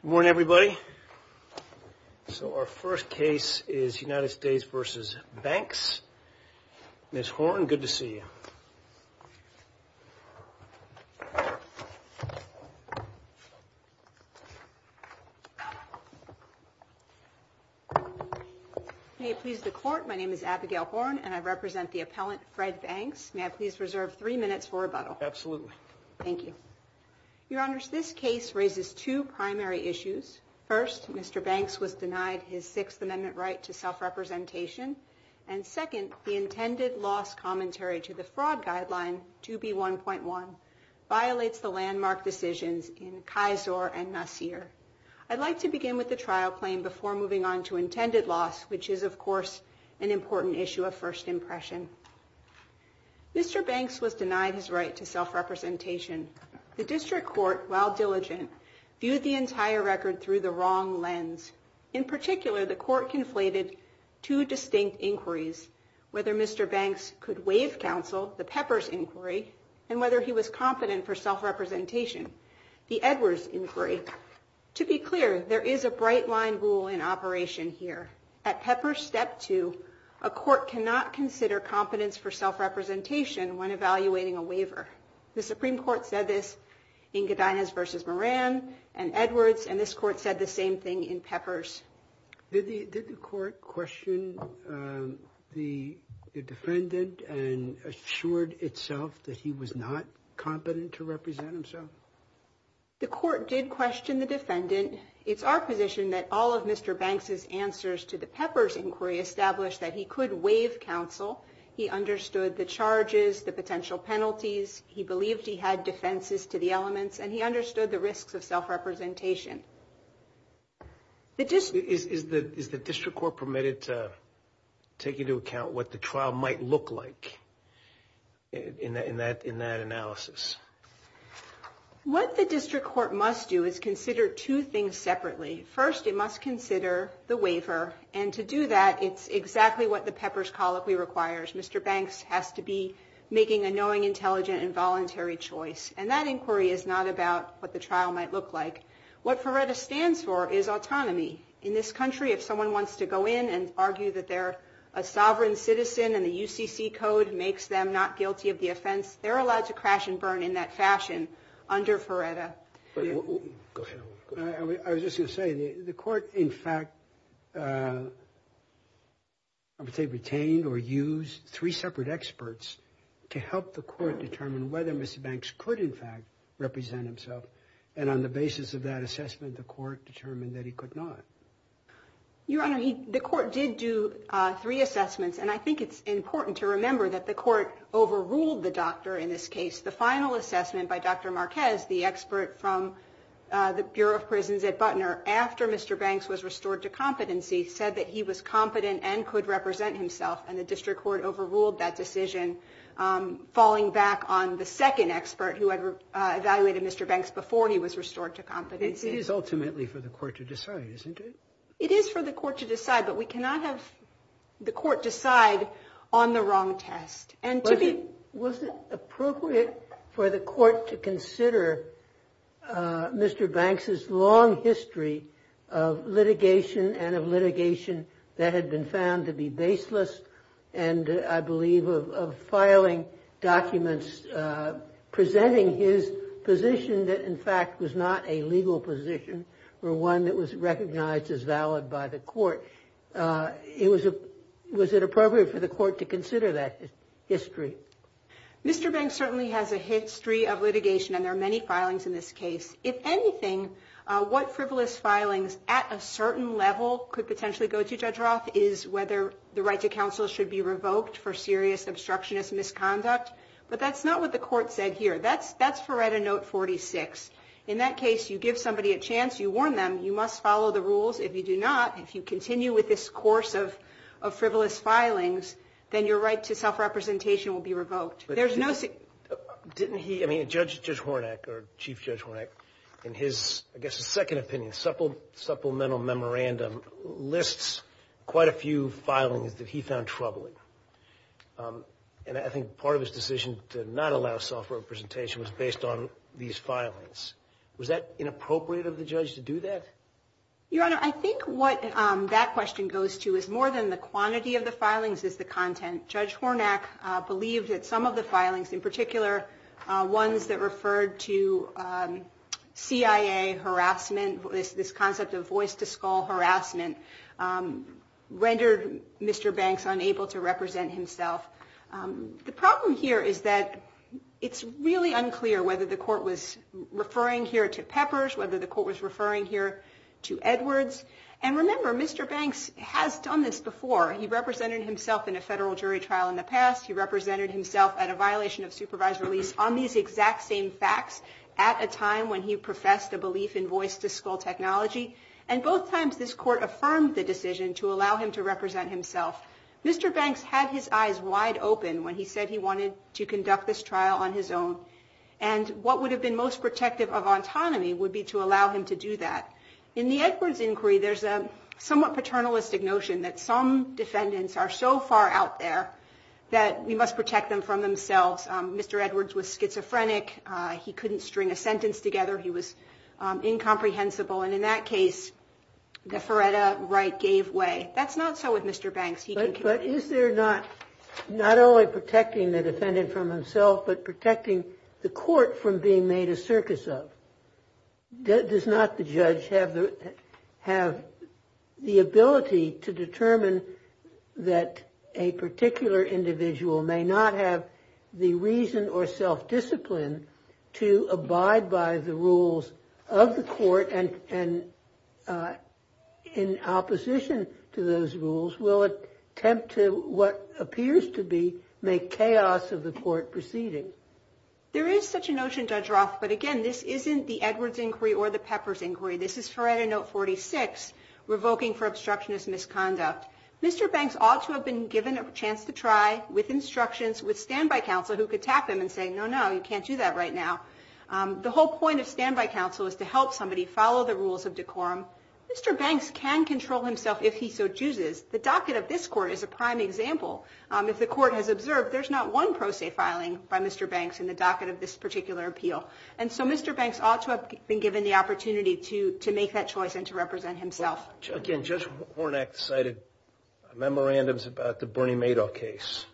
Good morning, everybody. So our first case is United States v. Banks. Ms. Horn, good to see you. May it please the Court, my name is Abigail Horn and I represent the appellant Fred Banks. May I please reserve three minutes for rebuttal? Absolutely. Thank you. Your Honors, this case raises two primary issues. First, Mr. Banks was denied his Sixth Amendment right to self-representation. And second, the intended loss commentary to the fraud guideline, 2B1.1, violates the landmark decisions in Kisor and Nasir. I'd like to begin with the trial claim before moving on to intended loss, which is, of course, an important issue of first impression. Mr. Banks was denied his right to self-representation. The district court, while diligent, viewed the entire record through the wrong lens. In particular, the court conflated two distinct inquiries, whether Mr. Banks could waive counsel, the Peppers inquiry, and whether he was competent for self-representation, the Edwards inquiry. To be clear, there is a bright line rule in operation here. At Pepper step two, a court cannot consider competence for self-representation when evaluating a waiver. The Supreme Court said this in Godinez versus Moran and Edwards, and this court said the same thing in Peppers. Did the court question the defendant and assured itself that he was not competent to represent himself? The court did question the defendant. It's our position that all of Mr. Banks's answers to the Peppers inquiry established that he could waive counsel. He understood the charges, the potential penalties. He believed he had defenses to the elements, and he understood the risks of self-representation. Is the district court permitted to take into account what the trial might look like in that analysis? What the district court must do is consider two things separately. First, it must consider the waiver, and to do that, it's exactly what the Peppers colloquy requires. Mr. Banks has to be making a knowing, intelligent, and voluntary choice, and that inquiry is not about what the trial might look like. What FERRETA stands for is autonomy. In this country, if someone wants to go in and argue that they're a sovereign citizen and the UCC code makes them not guilty of the offense, they're allowed to crash and burn in that fashion under FERRETA. I was just going to say, the court, in fact, I would say retained or used three separate experts to help the court determine whether Mr. Banks could, in fact, represent himself, and on the basis of that assessment, the court determined that he could not. Your Honor, the court did do three assessments, and I think it's important to remember that the court overruled the doctor in this case. The final assessment by Dr. Marquez, the expert from the Bureau of Prisons at Butner, after Mr. Banks was restored to competency, said that he was an expert who had evaluated Mr. Banks before he was restored to competency. It is ultimately for the court to decide, isn't it? It is for the court to decide, but we cannot have the court decide on the wrong test. Was it appropriate for the court to consider Mr. Banks' long history of litigation and of litigation that had been found to be baseless and, I believe, of filing documents presenting his position that, in fact, was not a legal position or one that was recognized as valid by the court? Was it appropriate for the court to consider that history? Mr. Banks certainly has a history of litigation, and there are many filings in this case. If anything, what frivolous filings at a certain level could potentially go to Judge Roth is whether the right to counsel should be revoked for serious obstructionist misconduct, but that's not what the court said here. That's Feretta Note 46. In that case, you give somebody a chance, you warn them, you must follow the rules. If you do not, if you continue with this course of frivolous filings, then your right to self-representation will be revoked. There's no – Didn't he – I mean, Judge Hornak, or Chief Judge Hornak, in his, I guess, second opinion, supplemental memorandum, lists quite a few filings that he found troubling. And I think part of his decision to not allow self-representation was based on these filings. Was that inappropriate of the judge to do that? Your Honor, I think what that question goes to is more than the quantity of the filings, it's the content. Judge Hornak believed that some of the filings, in particular ones that referred to CIA harassment, this concept of voice-to-skull harassment, rendered Mr. Banks unable to represent himself. The problem here is that it's really unclear whether the court was referring here to Peppers, whether the court was referring here to Edwards. And remember, Mr. Banks has done this before. He represented himself in a federal jury trial in the past. He represented himself at a violation of supervised release on these exact same facts at a time when he professed a belief in voice-to-skull technology. And both times this court affirmed the decision to allow him to represent himself. Mr. Banks had his eyes wide open when he said he wanted to conduct this trial on his own. And what would have been most protective of autonomy would be to allow him to do that. In the Edwards inquiry, there's a somewhat paternalistic notion that some defendants are so far out there that we must protect them from themselves. Mr. Edwards was schizophrenic. He couldn't string a sentence together. He was incomprehensible. And in that case, the Faretta right gave way. That's not so with Mr. Banks. But is there not only protecting the defendant from himself, but protecting the court from being made a circus of? Does not the judge have the ability to determine that a particular individual may not have the reason or self-discipline to abide by the rules of the court? And in opposition to those rules, will attempt to what appears to be make chaos of the court proceeding? There is such a notion, Judge Roth. But again, this isn't the Edwards inquiry or the Peppers inquiry. This is Faretta note 46, revoking for obstructionist misconduct. Mr. Banks ought to have been given a chance to try with instructions, with standby counsel who could tap him and say, no, no, you can't do that right now. The whole point of standby counsel is to help somebody follow the rules of decorum. Mr. Banks can control himself if he so chooses. The docket of this court is a prime example. If the court has observed, there's not one pro se filing by Mr. Banks in the docket of this particular appeal. And so Mr. Banks ought to have been given the opportunity to make that choice and to represent himself. Again, Judge Hornak cited memorandums about the Bernie Madoff case.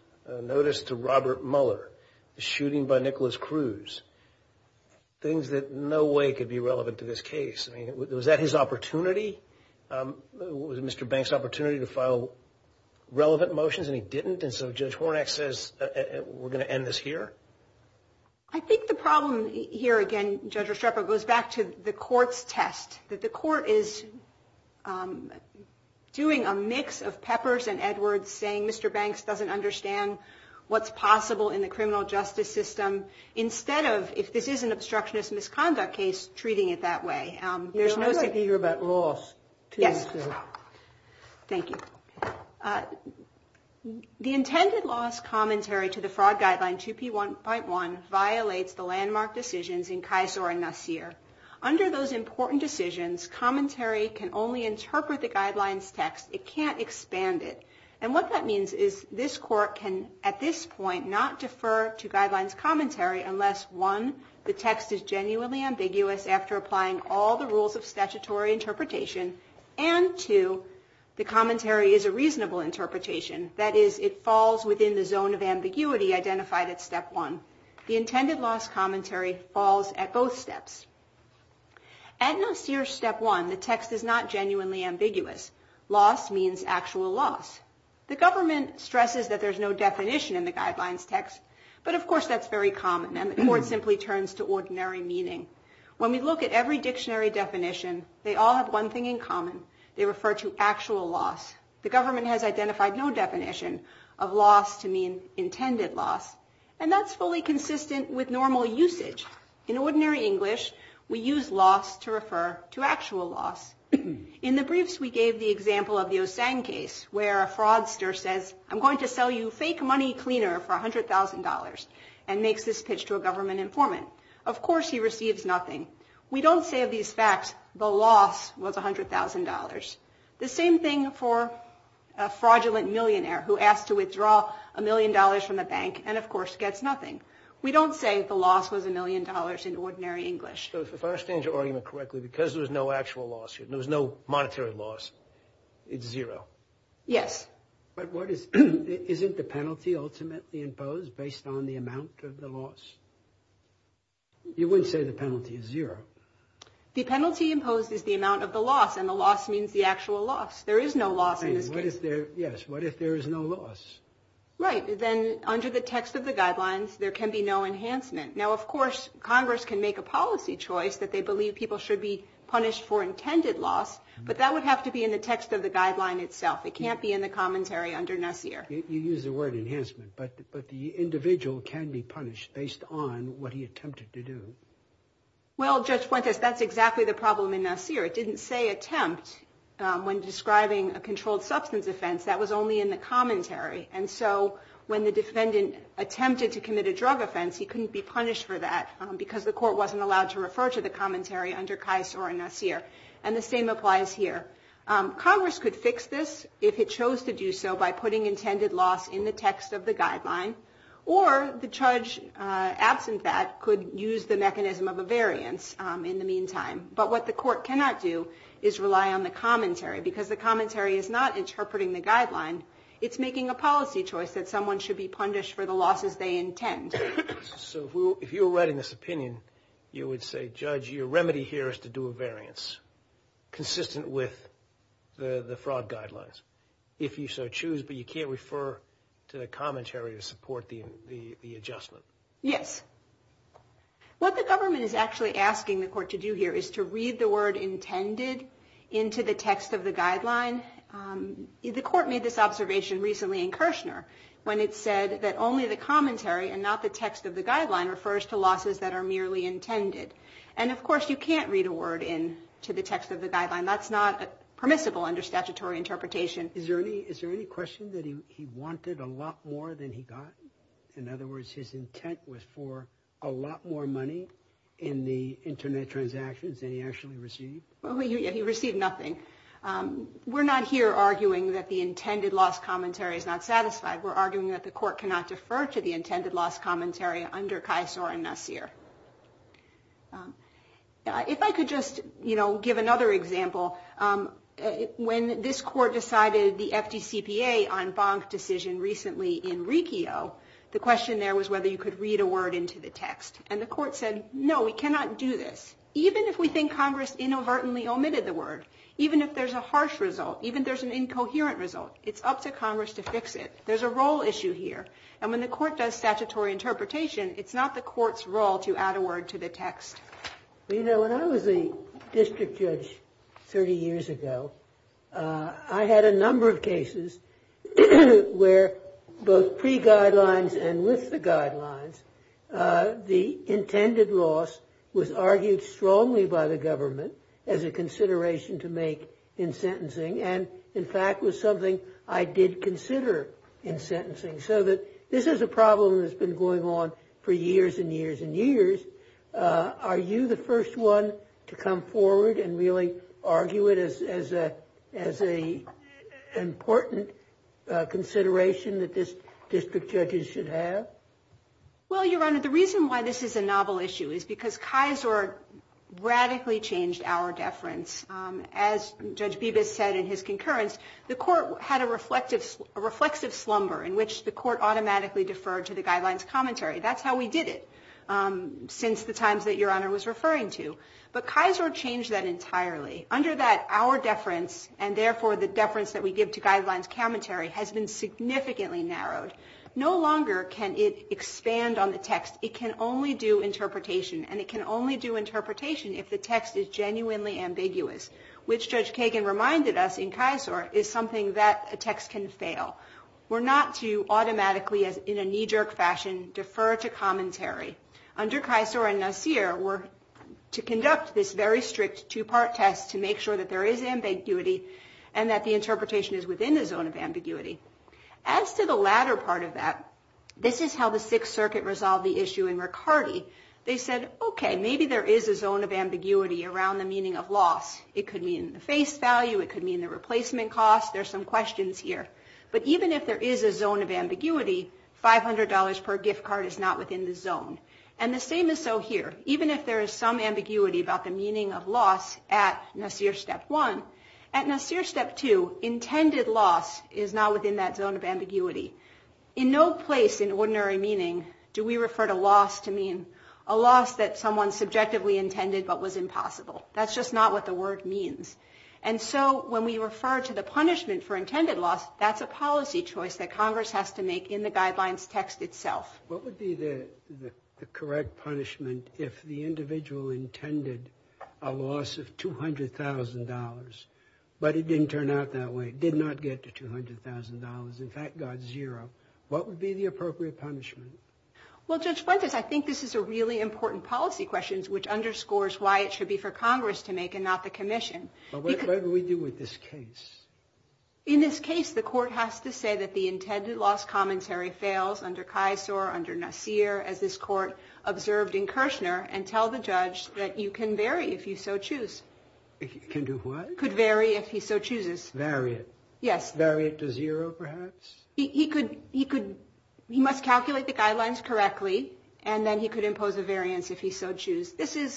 Notice to Robert Mueller, the shooting by Nicholas Cruz. Things that in no way could be relevant to this case. I mean, was that his opportunity? Was it Mr. Banks' opportunity to file relevant motions and he didn't? And so Judge Hornak says, we're going to end this here? I think the problem here, again, Judge Restrepo, goes back to the court's test. That the court is doing a mix of Peppers and Edwards, saying Mr. Banks doesn't understand what's possible in the criminal justice system. Instead of, if this is an obstructionist misconduct case, treating it that way. You're most eager about loss. Yes. Thank you. The intended loss commentary to the fraud guideline 2P1.1 violates the landmark decisions in Kisor and Nasir. Under those important decisions, commentary can only interpret the guidelines text. It can't expand it. And what that means is this court can, at this point, not defer to guidelines commentary. Unless, one, the text is genuinely ambiguous after applying all the rules of statutory interpretation. And, two, the commentary is a reasonable interpretation. That is, it falls within the zone of ambiguity identified at step one. The intended loss commentary falls at both steps. At Nasir step one, the text is not genuinely ambiguous. Loss means actual loss. The government stresses that there's no definition in the guidelines text. But, of course, that's very common, and the court simply turns to ordinary meaning. When we look at every dictionary definition, they all have one thing in common. They refer to actual loss. The government has identified no definition of loss to mean intended loss. And that's fully consistent with normal usage. In ordinary English, we use loss to refer to actual loss. In the briefs, we gave the example of the Osang case, where a fraudster says, I'm going to sell you fake money cleaner for $100,000, and makes this pitch to a government informant. Of course, he receives nothing. We don't say of these facts, the loss was $100,000. The same thing for a fraudulent millionaire who asked to withdraw a million dollars from the bank, and, of course, gets nothing. We don't say the loss was a million dollars in ordinary English. So, if I understand your argument correctly, because there was no actual loss here, there was no monetary loss, it's zero. Yes. But isn't the penalty ultimately imposed based on the amount of the loss? You wouldn't say the penalty is zero. The penalty imposed is the amount of the loss, and the loss means the actual loss. There is no loss in this case. Yes. What if there is no loss? Right. Then, under the text of the guidelines, there can be no enhancement. Now, of course, Congress can make a policy choice that they believe people should be punished for intended loss, but that would have to be in the text of the guideline itself. It can't be in the commentary under NASIR. You use the word enhancement, but the individual can be punished based on what he attempted to do. Well, Judge Fuentes, that's exactly the problem in NASIR. It didn't say attempt when describing a controlled substance offense. That was only in the commentary. And so, when the defendant attempted to commit a drug offense, he couldn't be punished for that because the court wasn't allowed to refer to the commentary under CAIS or NASIR. And the same applies here. Congress could fix this if it chose to do so by putting intended loss in the text of the guideline, or the judge, absent that, could use the mechanism of a variance in the meantime. But what the court cannot do is rely on the commentary because the commentary is not interpreting the guideline. It's making a policy choice that someone should be punished for the losses they intend. So, if you were writing this opinion, you would say, Judge, your remedy here is to do a variance consistent with the fraud guidelines, if you so choose, but you can't refer to the commentary to support the adjustment. Yes. What the government is actually asking the court to do here is to read the word intended into the text of the guideline. The court made this observation recently in Kirshner when it said that only the commentary and not the text of the guideline refers to losses that are merely intended. And, of course, you can't read a word into the text of the guideline. That's not permissible under statutory interpretation. Is there any question that he wanted a lot more than he got? In other words, his intent was for a lot more money in the Internet transactions than he actually received? He received nothing. We're not here arguing that the intended loss commentary is not satisfied. We're arguing that the court cannot defer to the intended loss commentary under Kisor and Nasir. If I could just give another example, when this court decided the FDCPA en banc decision recently in Riccio, the question there was whether you could read a word into the text. And the court said, No, we cannot do this. Even if we think Congress inadvertently omitted the word, even if there's a harsh result, even if there's an incoherent result, it's up to Congress to fix it. There's a role issue here. And when the court does statutory interpretation, it's not the court's role to add a word to the text. You know, when I was a district judge 30 years ago, I had a number of cases where both pre-guidelines and with the guidelines, the intended loss was argued strongly by the government as a consideration to make in sentencing and, in fact, was something I did consider in sentencing. So this is a problem that's been going on for years and years and years. Are you the first one to come forward and really argue it as an important consideration that district judges should have? Well, Your Honor, the reason why this is a novel issue is because Kisor radically changed our deference. As Judge Bibas said in his concurrence, the court had a reflexive slumber in which the court automatically deferred to the guidelines commentary. That's how we did it since the times that Your Honor was referring to. But Kisor changed that entirely. Under that, our deference and, therefore, the deference that we give to guidelines commentary has been significantly narrowed. No longer can it expand on the text. It can only do interpretation, and it can only do interpretation if the text is genuinely ambiguous, which Judge Kagan reminded us in Kisor is something that a text can fail. We're not to automatically, in a knee-jerk fashion, defer to commentary. Under Kisor and Nasir, we're to conduct this very strict two-part test to make sure that there is ambiguity, and that the interpretation is within the zone of ambiguity. As to the latter part of that, this is how the Sixth Circuit resolved the issue in Ricardi. They said, okay, maybe there is a zone of ambiguity around the meaning of loss. It could mean the face value. It could mean the replacement cost. There's some questions here. But even if there is a zone of ambiguity, $500 per gift card is not within the zone. And the same is so here. Even if there is some ambiguity about the meaning of loss at Nasir Step 1, at Nasir Step 2, intended loss is not within that zone of ambiguity. In no place in ordinary meaning do we refer to loss to mean a loss that someone subjectively intended but was impossible. That's just not what the word means. And so when we refer to the punishment for intended loss, that's a policy choice that Congress has to make in the guidelines text itself. What would be the correct punishment if the individual intended a loss of $200,000, but it didn't turn out that way, did not get to $200,000, in fact, got zero? What would be the appropriate punishment? Well, Judge Fuentes, I think this is a really important policy question, which underscores why it should be for Congress to make and not the commission. But what do we do with this case? In this case, the court has to say that the intended loss commentary fails under Kisor, under Nasir, as this court observed in Kirchner, and tell the judge that you can vary if you so choose. Can do what? Could vary if he so chooses. Vary it? Yes. Vary it to zero, perhaps? He could, he must calculate the guidelines correctly, and then he could impose a variance if he so choose.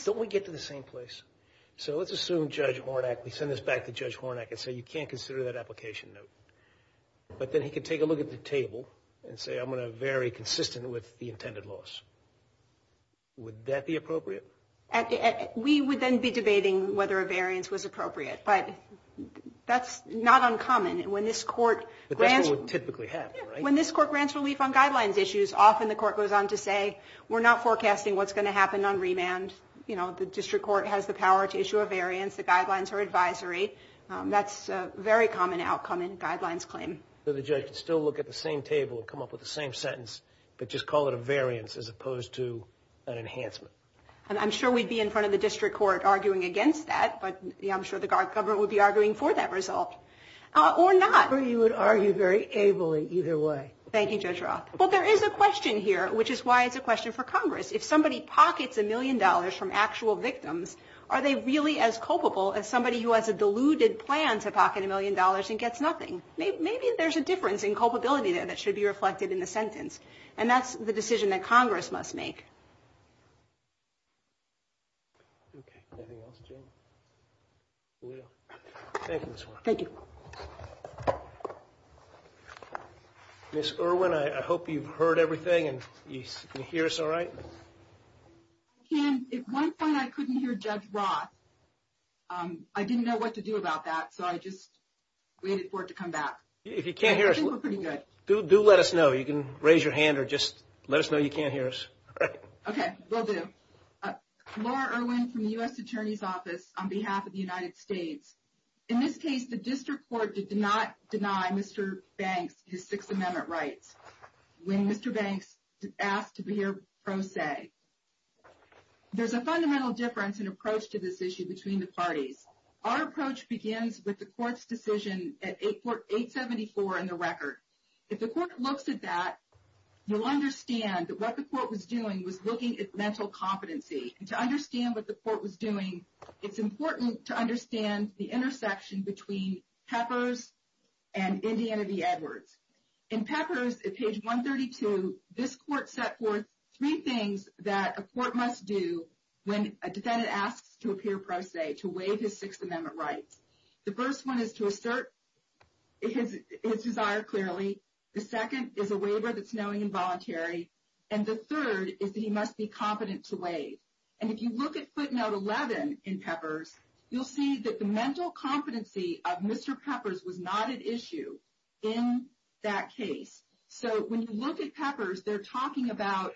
Don't we get to the same place? So let's assume Judge Hornak, we send this back to Judge Hornak and say, you can't consider that application note. But then he could take a look at the table and say, I'm going to vary consistent with the intended loss. Would that be appropriate? We would then be debating whether a variance was appropriate. But that's not uncommon. When this court grants relief on guidelines issues, often the court goes on to say, we're not forecasting what's going to happen on remand. You know, the district court has the power to issue a variance, the guidelines are advisory. That's a very common outcome in guidelines claim. So the judge could still look at the same table and come up with the same sentence, but just call it a variance as opposed to an enhancement. And I'm sure we'd be in front of the district court arguing against that, but I'm sure the government would be arguing for that result. Or not. Or you would argue very ably either way. Thank you, Judge Roth. But there is a question here, which is why it's a question for Congress. If somebody pockets a million dollars from actual victims, are they really as culpable as somebody who has a deluded plan to pocket a million dollars and gets nothing? Maybe there's a difference in culpability there that should be reflected in the sentence. And that's the decision that Congress must make. Thank you. Ms. Irwin, I hope you've heard everything and you can hear us all right. At one point I couldn't hear Judge Roth. I didn't know what to do about that, so I just waited for it to come back. If you can't hear us, do let us know. You can raise your hand or just let us know you can't hear us. Okay. Laura Irwin from the U.S. Attorney's Office on behalf of the United States. In this case, the district court did not deny Mr. Banks his Sixth Amendment rights. When Mr. Banks asked to be here pro se, there's a fundamental difference in approach to this issue between the parties. Our approach begins with the court's decision at 874 in the record. If the court looks at that, you'll understand that what the court was doing was looking at mental competency. And to understand what the court was doing, it's important to understand the intersection between Peppers and Indiana v. Peppers. If you look at page 132, this court set forth three things that a court must do when a defendant asks to appear pro se to waive his Sixth Amendment rights. The first one is to assert his desire clearly. The second is a waiver that's knowing and voluntary. And the third is that he must be competent to waive. And if you look at footnote 11 in Peppers, you'll see that the mental competency of Mr. Peppers was not an issue in that case. So when you look at Peppers, they're talking about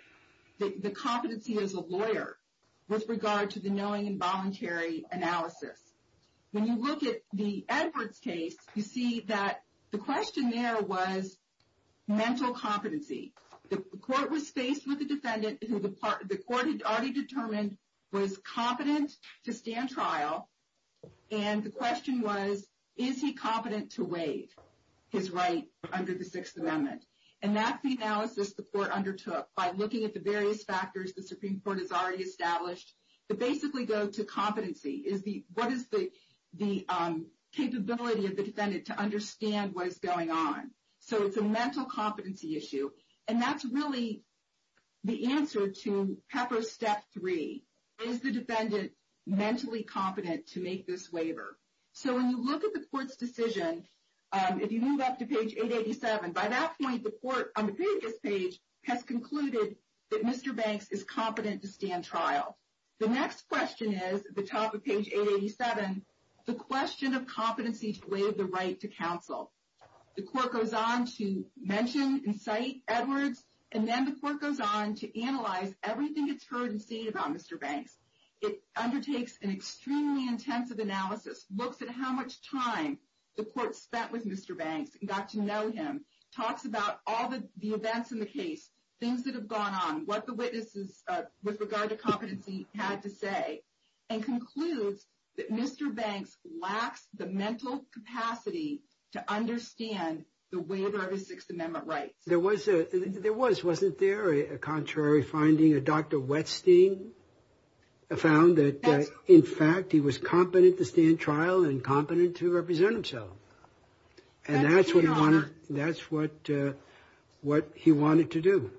the competency as a lawyer with regard to the knowing and voluntary analysis. When you look at the Edwards case, you see that the question there was mental competency. The court was faced with a defendant who the court had already determined was competent to stand trial. And the question was, is he competent to waive his right under the Sixth Amendment? And that's the analysis the court undertook by looking at the various factors the Supreme Court has already established to basically go to competency. What is the capability of the defendant to understand what is going on? So it's a mental competency issue. And that's really the answer to Peppers step three. Is the defendant mentally competent to make this waiver? So when you look at the court's decision, if you move up to page 887, by that point, the court on the previous page has concluded that Mr. Banks is competent to stand trial. The next question is at the top of page 887, the question of competency to waive the right to counsel. The court goes on to mention and cite Edwards, and then the court goes on to analyze everything it's heard and seen about Mr. Banks. It undertakes an extremely intensive analysis, looks at how much time the court spent with Mr. Banks and got to know him, talks about all the events in the case, things that have gone on, what the witnesses with regard to competency had to say, and concludes that Mr. Banks lacks the mental capacity to understand the waiver of his Sixth Amendment rights. There was a, there was, wasn't there a contrary finding? A Dr. Westing found that in fact, he was competent to stand trial and competent to represent himself. And that's what he wanted. That's what, what he wanted to do.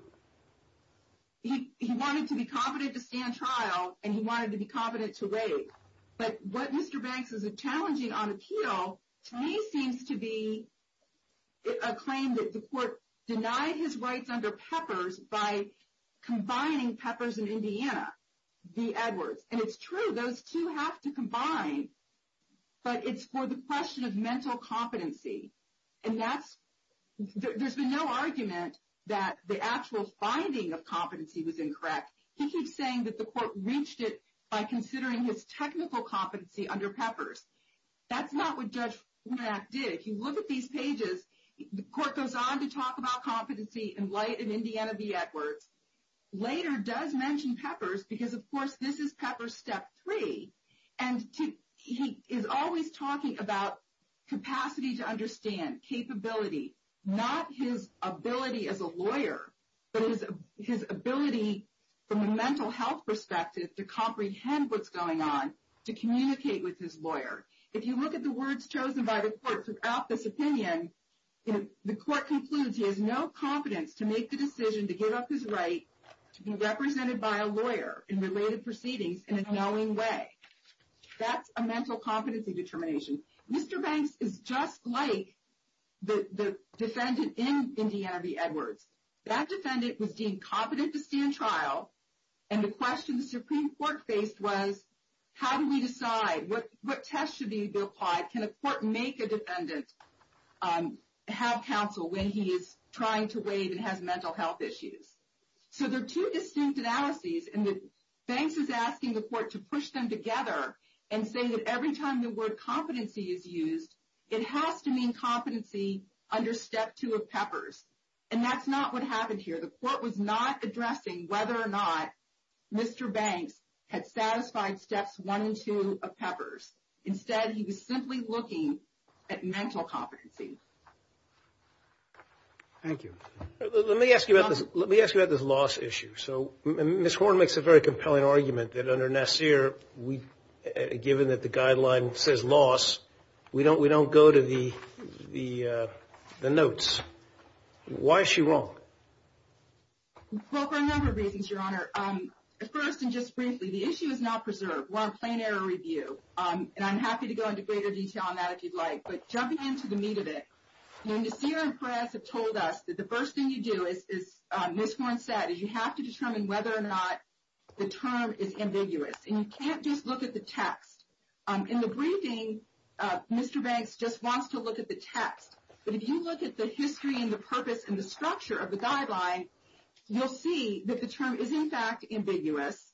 He wanted to be competent to stand trial and he wanted to be competent to waive. But what Mr. Banks is challenging on appeal to me seems to be a claim that the court denied his rights under Peppers by combining Peppers and Indiana, v. Edwards. And it's true, those two have to combine, but it's for the question of mental competency. And that's, there's been no argument that the actual finding of competency was incorrect. He keeps saying that the court reached it by considering his technical competency under Peppers. That's not what Judge Funak did. If you look at these pages, the court goes on to talk about competency in light of Indiana v. Edwards. Later does mention Peppers because of course this is Peppers step three. And he is always talking about capacity to understand, capability, not his ability as a lawyer, but his ability from a mental health perspective to comprehend what's going on, to communicate with his lawyer. If you look at the words chosen by the court throughout this opinion, the court concludes he has no competence to make the decision to give up his right to be represented by a lawyer in related proceedings in a knowing way. That's a mental competency determination. Mr. Banks is just like the defendant in Indiana v. Edwards. That defendant was deemed competent to stand trial. And the question the Supreme Court faced was, how do we decide? What tests should be applied? Can a court make a defendant have counsel when he is trying to waive and has mental health issues? So there are two distinct analyses, and Banks is asking the court to push them together and say that every time the word competency is used, it has to mean competency under step two of Peppers. And that's not what happened here. The court was not addressing whether or not Mr. Banks had mental health issues under step two of Peppers. Instead, he was simply looking at mental competency. Thank you. Let me ask you about this loss issue. So Ms. Horne makes a very compelling argument that under Nassir, given that the guideline says loss, we don't go to the notes. Why is she wrong? Well, for a number of reasons, Your Honor. First and just briefly, the issue is not preserved. We're on a plain error review, and I'm happy to go into greater detail on that if you'd like. But jumping into the meat of it, Nassir and Perez have told us that the first thing you do, as Ms. Horne said, is you have to determine whether or not the term is ambiguous. And you can't just look at the text. In the briefing, Mr. Banks just wants to look at the text. But if you look at the history and the purpose and the structure of the guideline, you'll see that the term is, in fact, ambiguous.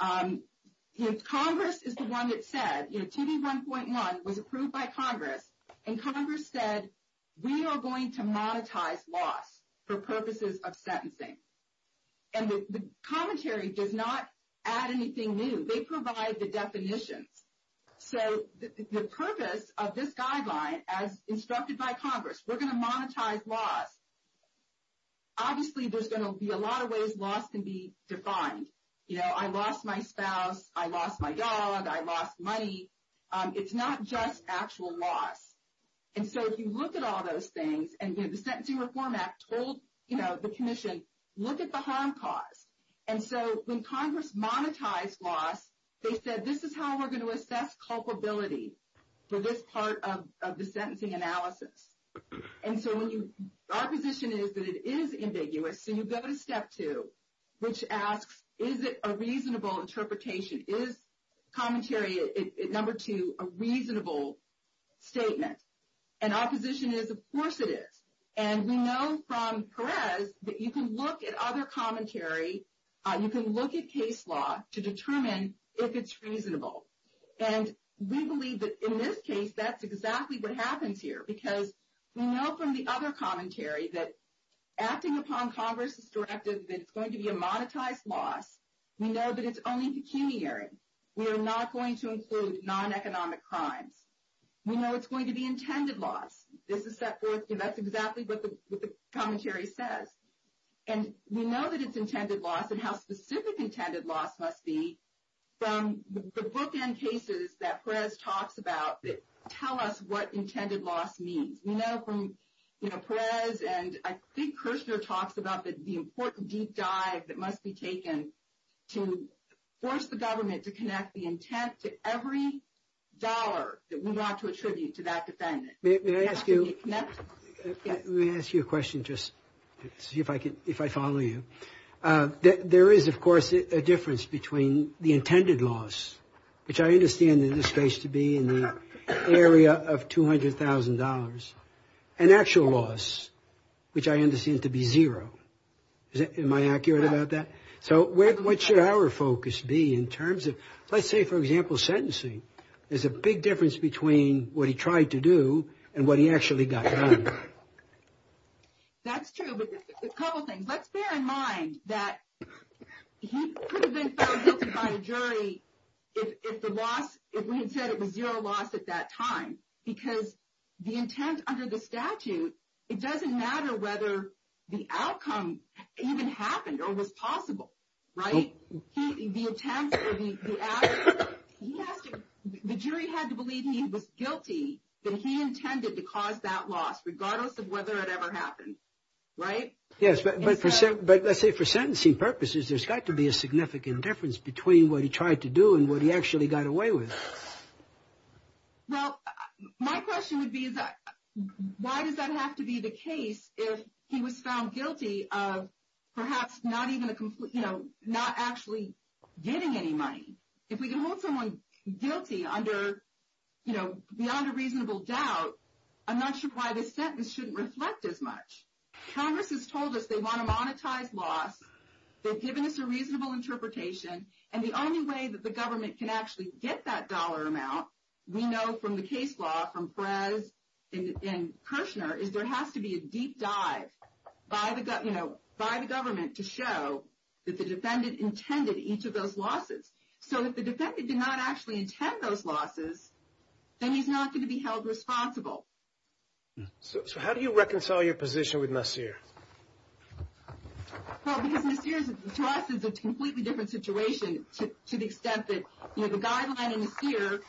Congress is the one that said, you know, TV 1.1 was approved by Congress, and Congress said, we are going to monetize loss for purposes of sentencing. And the commentary does not add anything new. They provide the definitions. So the purpose of this guideline, as instructed by Congress, we're going to monetize loss. Obviously, there's going to be a lot of ways loss can be defined. You know, I lost my spouse, I lost my dog, I lost money. It's not just actual loss. And so if you look at all those things, and the Sentencing Reform Act told, you know, the commission, look at the harm caused. And so when Congress monetized loss, they said this is how we're going to assess culpability for this part of the sentencing analysis. And so our position is that it is ambiguous. So you go to step two, which asks, is it a reasonable interpretation? Is commentary, number two, a reasonable statement? And our position is, of course it is. And we know from Perez that you can look at other commentary, you can look at case law to determine if it's reasonable. And we believe that in this case, that's exactly what happens here, because we know from the other commentary that acting upon Congress' directive that it's going to be a monetized loss, we know that it's only pecuniary. We are not going to include non-economic crimes. We know it's going to be intended loss. That's exactly what the commentary says. And we know that it's intended loss, and how specific intended loss must be from the bookend cases that Perez talks about that tell us what intended loss means. We know from Perez and I think Kushner talks about the important deep dive that must be taken to force the government to connect the intent to every dollar that we want to attribute to that defendant. May I ask you a question, just to see if I follow you? There is, of course, a difference between the intended loss, which I understand in this case to be in the area of $200,000, and actual loss, which I understand to be zero. Am I accurate about that? So what should our focus be in terms of, let's say, for example, sentencing? There's a big difference between what he tried to do and what he actually got done. That's true, but a couple things. Let's bear in mind that he could have been found guilty by a jury if the loss, if we had said it was zero loss at that time. Because the intent under the statute, it doesn't matter whether the outcome even happened or was possible, right? The jury had to believe he was guilty that he intended to cause that loss, regardless of whether it ever happened, right? Yes, but let's say for sentencing purposes, there's got to be a significant difference between what he tried to do and what he actually got away with. Well, my question would be, why does that have to be the case if he was found guilty of perhaps not actually getting any money? If we can hold someone guilty beyond a reasonable doubt, I'm not sure why the sentence shouldn't reflect as much. Congress has told us they want a monetized loss. They've given us a reasonable interpretation. And the only way that the government can actually get that dollar amount, we know from the case law from Perez and Kirshner, is there has to be a deep dive by the government to show that the defendant intended each of those losses. So if the defendant did not actually intend those losses, then he's not going to be held responsible. So how do you reconcile your position with Nasir? Well, because Nasir, to us, is a completely different situation, to the extent that the guideline in Nasir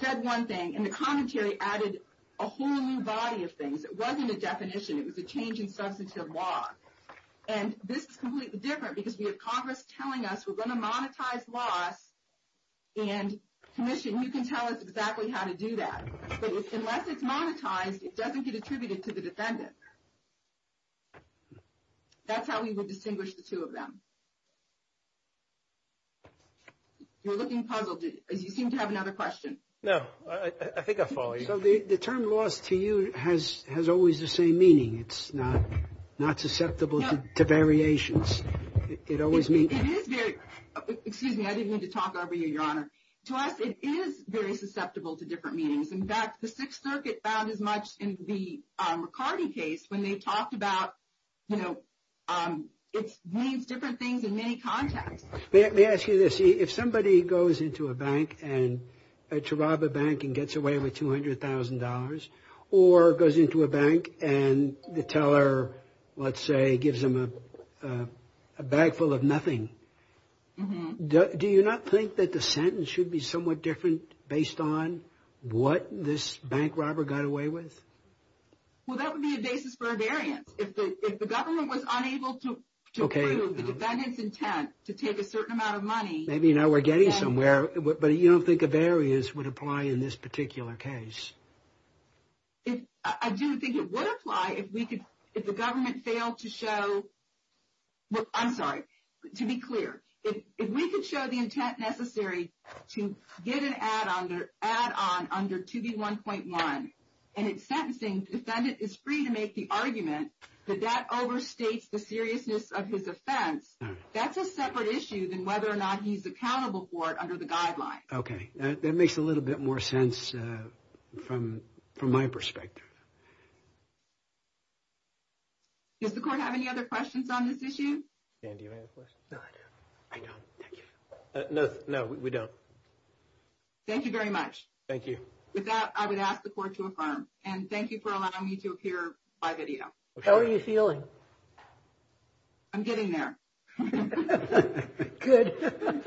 said one thing, and the commentary added a whole new body of things. It wasn't a definition. It was a change in substantive law. And this is completely different because we have Congress telling us we're going to monetize loss, and commission, you can tell us exactly how to do that. But unless it's monetized, it doesn't get attributed to the defendant. That's how we would distinguish the two of them. You're looking puzzled. You seem to have another question. No. I think I follow you. So the term loss to you has always the same meaning. It's not susceptible to variations. It always means... It is very... Excuse me. I didn't mean to talk over you, Your Honor. To us, it is very susceptible to different meanings. In fact, the Sixth Circuit found as much in the McCarty case when they talked about, you know, it means different things in many contexts. Let me ask you this. If somebody goes into a bank to rob a bank and gets away with $200,000, or goes into a bank and the teller, let's say, gives them a bag full of nothing, do you not think that the sentence should be somewhat different based on what this bank robber got away with? Well, that would be a basis for a variance. If the government was unable to prove the defendant's intent to take a certain amount of money... Maybe now we're getting somewhere. But you don't think a variance would apply in this particular case? I do think it would apply if the government failed to show... I'm sorry. To be clear, if we could show the intent necessary to get an add-on under 2B1.1 and it's sentencing, the defendant is free to make the argument that that overstates the seriousness of his offense. That's a separate issue than whether or not he's accountable for it under the guidelines. Okay. That makes a little bit more sense from my perspective. Does the court have any other questions on this issue? Jan, do you have any other questions? No, I don't. I don't. Thank you. No, we don't. Thank you very much. Thank you. With that, I would ask the court to affirm. And thank you for allowing me to appear by video. How are you feeling? I'm getting there. Good.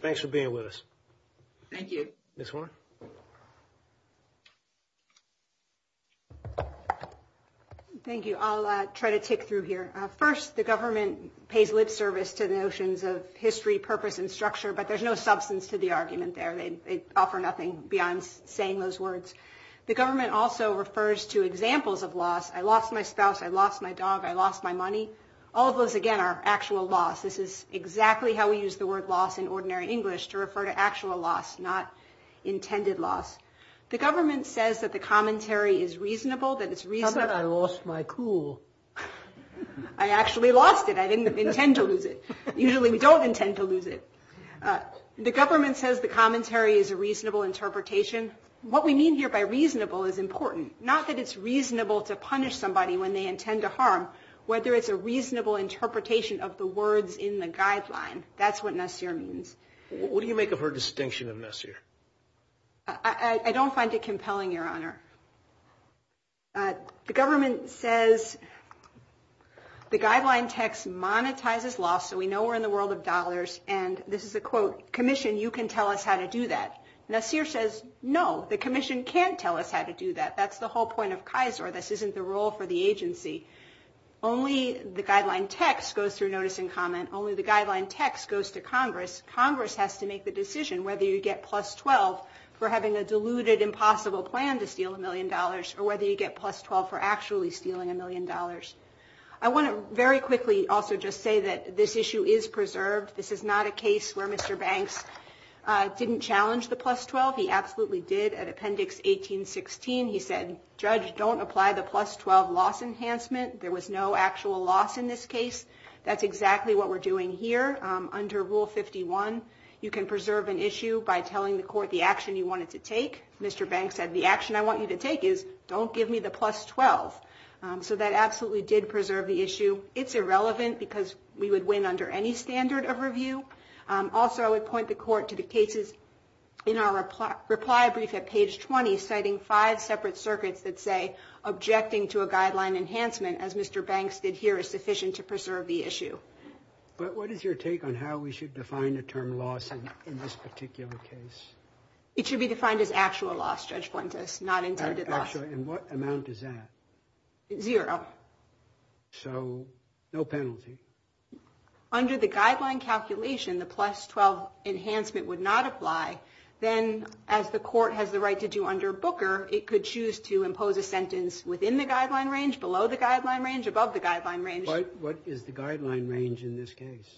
Thanks for being with us. Thank you. Ms. Warren? Thank you. I'll try to tick through here. First, the government pays lip service to the notions of history, purpose, and structure, but there's no substance to the argument there. They offer nothing beyond saying those words. The government also refers to examples of loss. I lost my spouse. I lost my dog. I lost my money. All of those, again, are actual loss. This is exactly how we use the word loss in ordinary English, to refer to actual loss, not intended loss. The government says that the commentary is reasonable. How about I lost my cool? I actually lost it. I didn't intend to lose it. Usually we don't intend to lose it. The government says the commentary is a reasonable interpretation. What we mean here by reasonable is important. Not that it's reasonable to punish somebody when they intend to harm. Whether it's a reasonable interpretation of the words in the guideline. That's what Nassir means. What do you make of her distinction of Nassir? I don't find it compelling, Your Honor. The government says the guideline text monetizes loss, so we know we're in the world of dollars, and this is a quote, commission, you can tell us how to do that. Nassir says, no, the commission can't tell us how to do that. That's the whole point of Kaiser. This isn't the role for the agency. Only the guideline text goes through notice and comment. Only the guideline text goes to Congress. Congress has to make the decision whether you get plus 12 for having a deluded, impossible plan to steal a million dollars, or whether you get plus 12 for actually stealing a million dollars. I want to very quickly also just say that this issue is preserved. This is not a case where Mr. Banks didn't challenge the plus 12. He absolutely did. At Appendix 1816, he said, judge, don't apply the plus 12 loss enhancement. There was no actual loss in this case. That's exactly what we're doing here. Under Rule 51, you can preserve an issue by telling the court the action you want it to take. Mr. Banks said, the action I want you to take is don't give me the plus 12. So that absolutely did preserve the issue. It's irrelevant because we would win under any standard of review. Also, I would point the court to the cases in our reply brief at page 20, citing five separate circuits that say, objecting to a guideline enhancement as Mr. Banks did here is sufficient to preserve the issue. But what is your take on how we should define the term loss in this particular case? It should be defined as actual loss, Judge Fuentes, not intended loss. And what amount is that? Zero. So no penalty. Under the guideline calculation, the plus 12 enhancement would not apply. Then, as the court has the right to do under Booker, it could choose to impose a sentence within the guideline range, below the guideline range, above the guideline range. What is the guideline range in this case?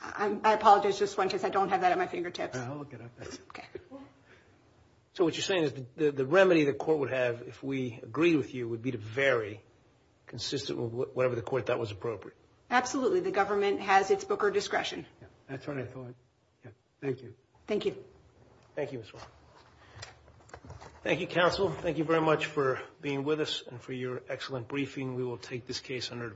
I apologize, Judge Fuentes. I don't have that at my fingertips. So what you're saying is the remedy the court would have if we agreed with you would be to vary consistent with whatever the court thought was appropriate. Absolutely. The government has its Booker discretion. That's what I thought. Thank you. Thank you. Thank you, Ms. Warren. Thank you, counsel. Thank you very much for being with us and for your excellent briefing. We will take this case under review.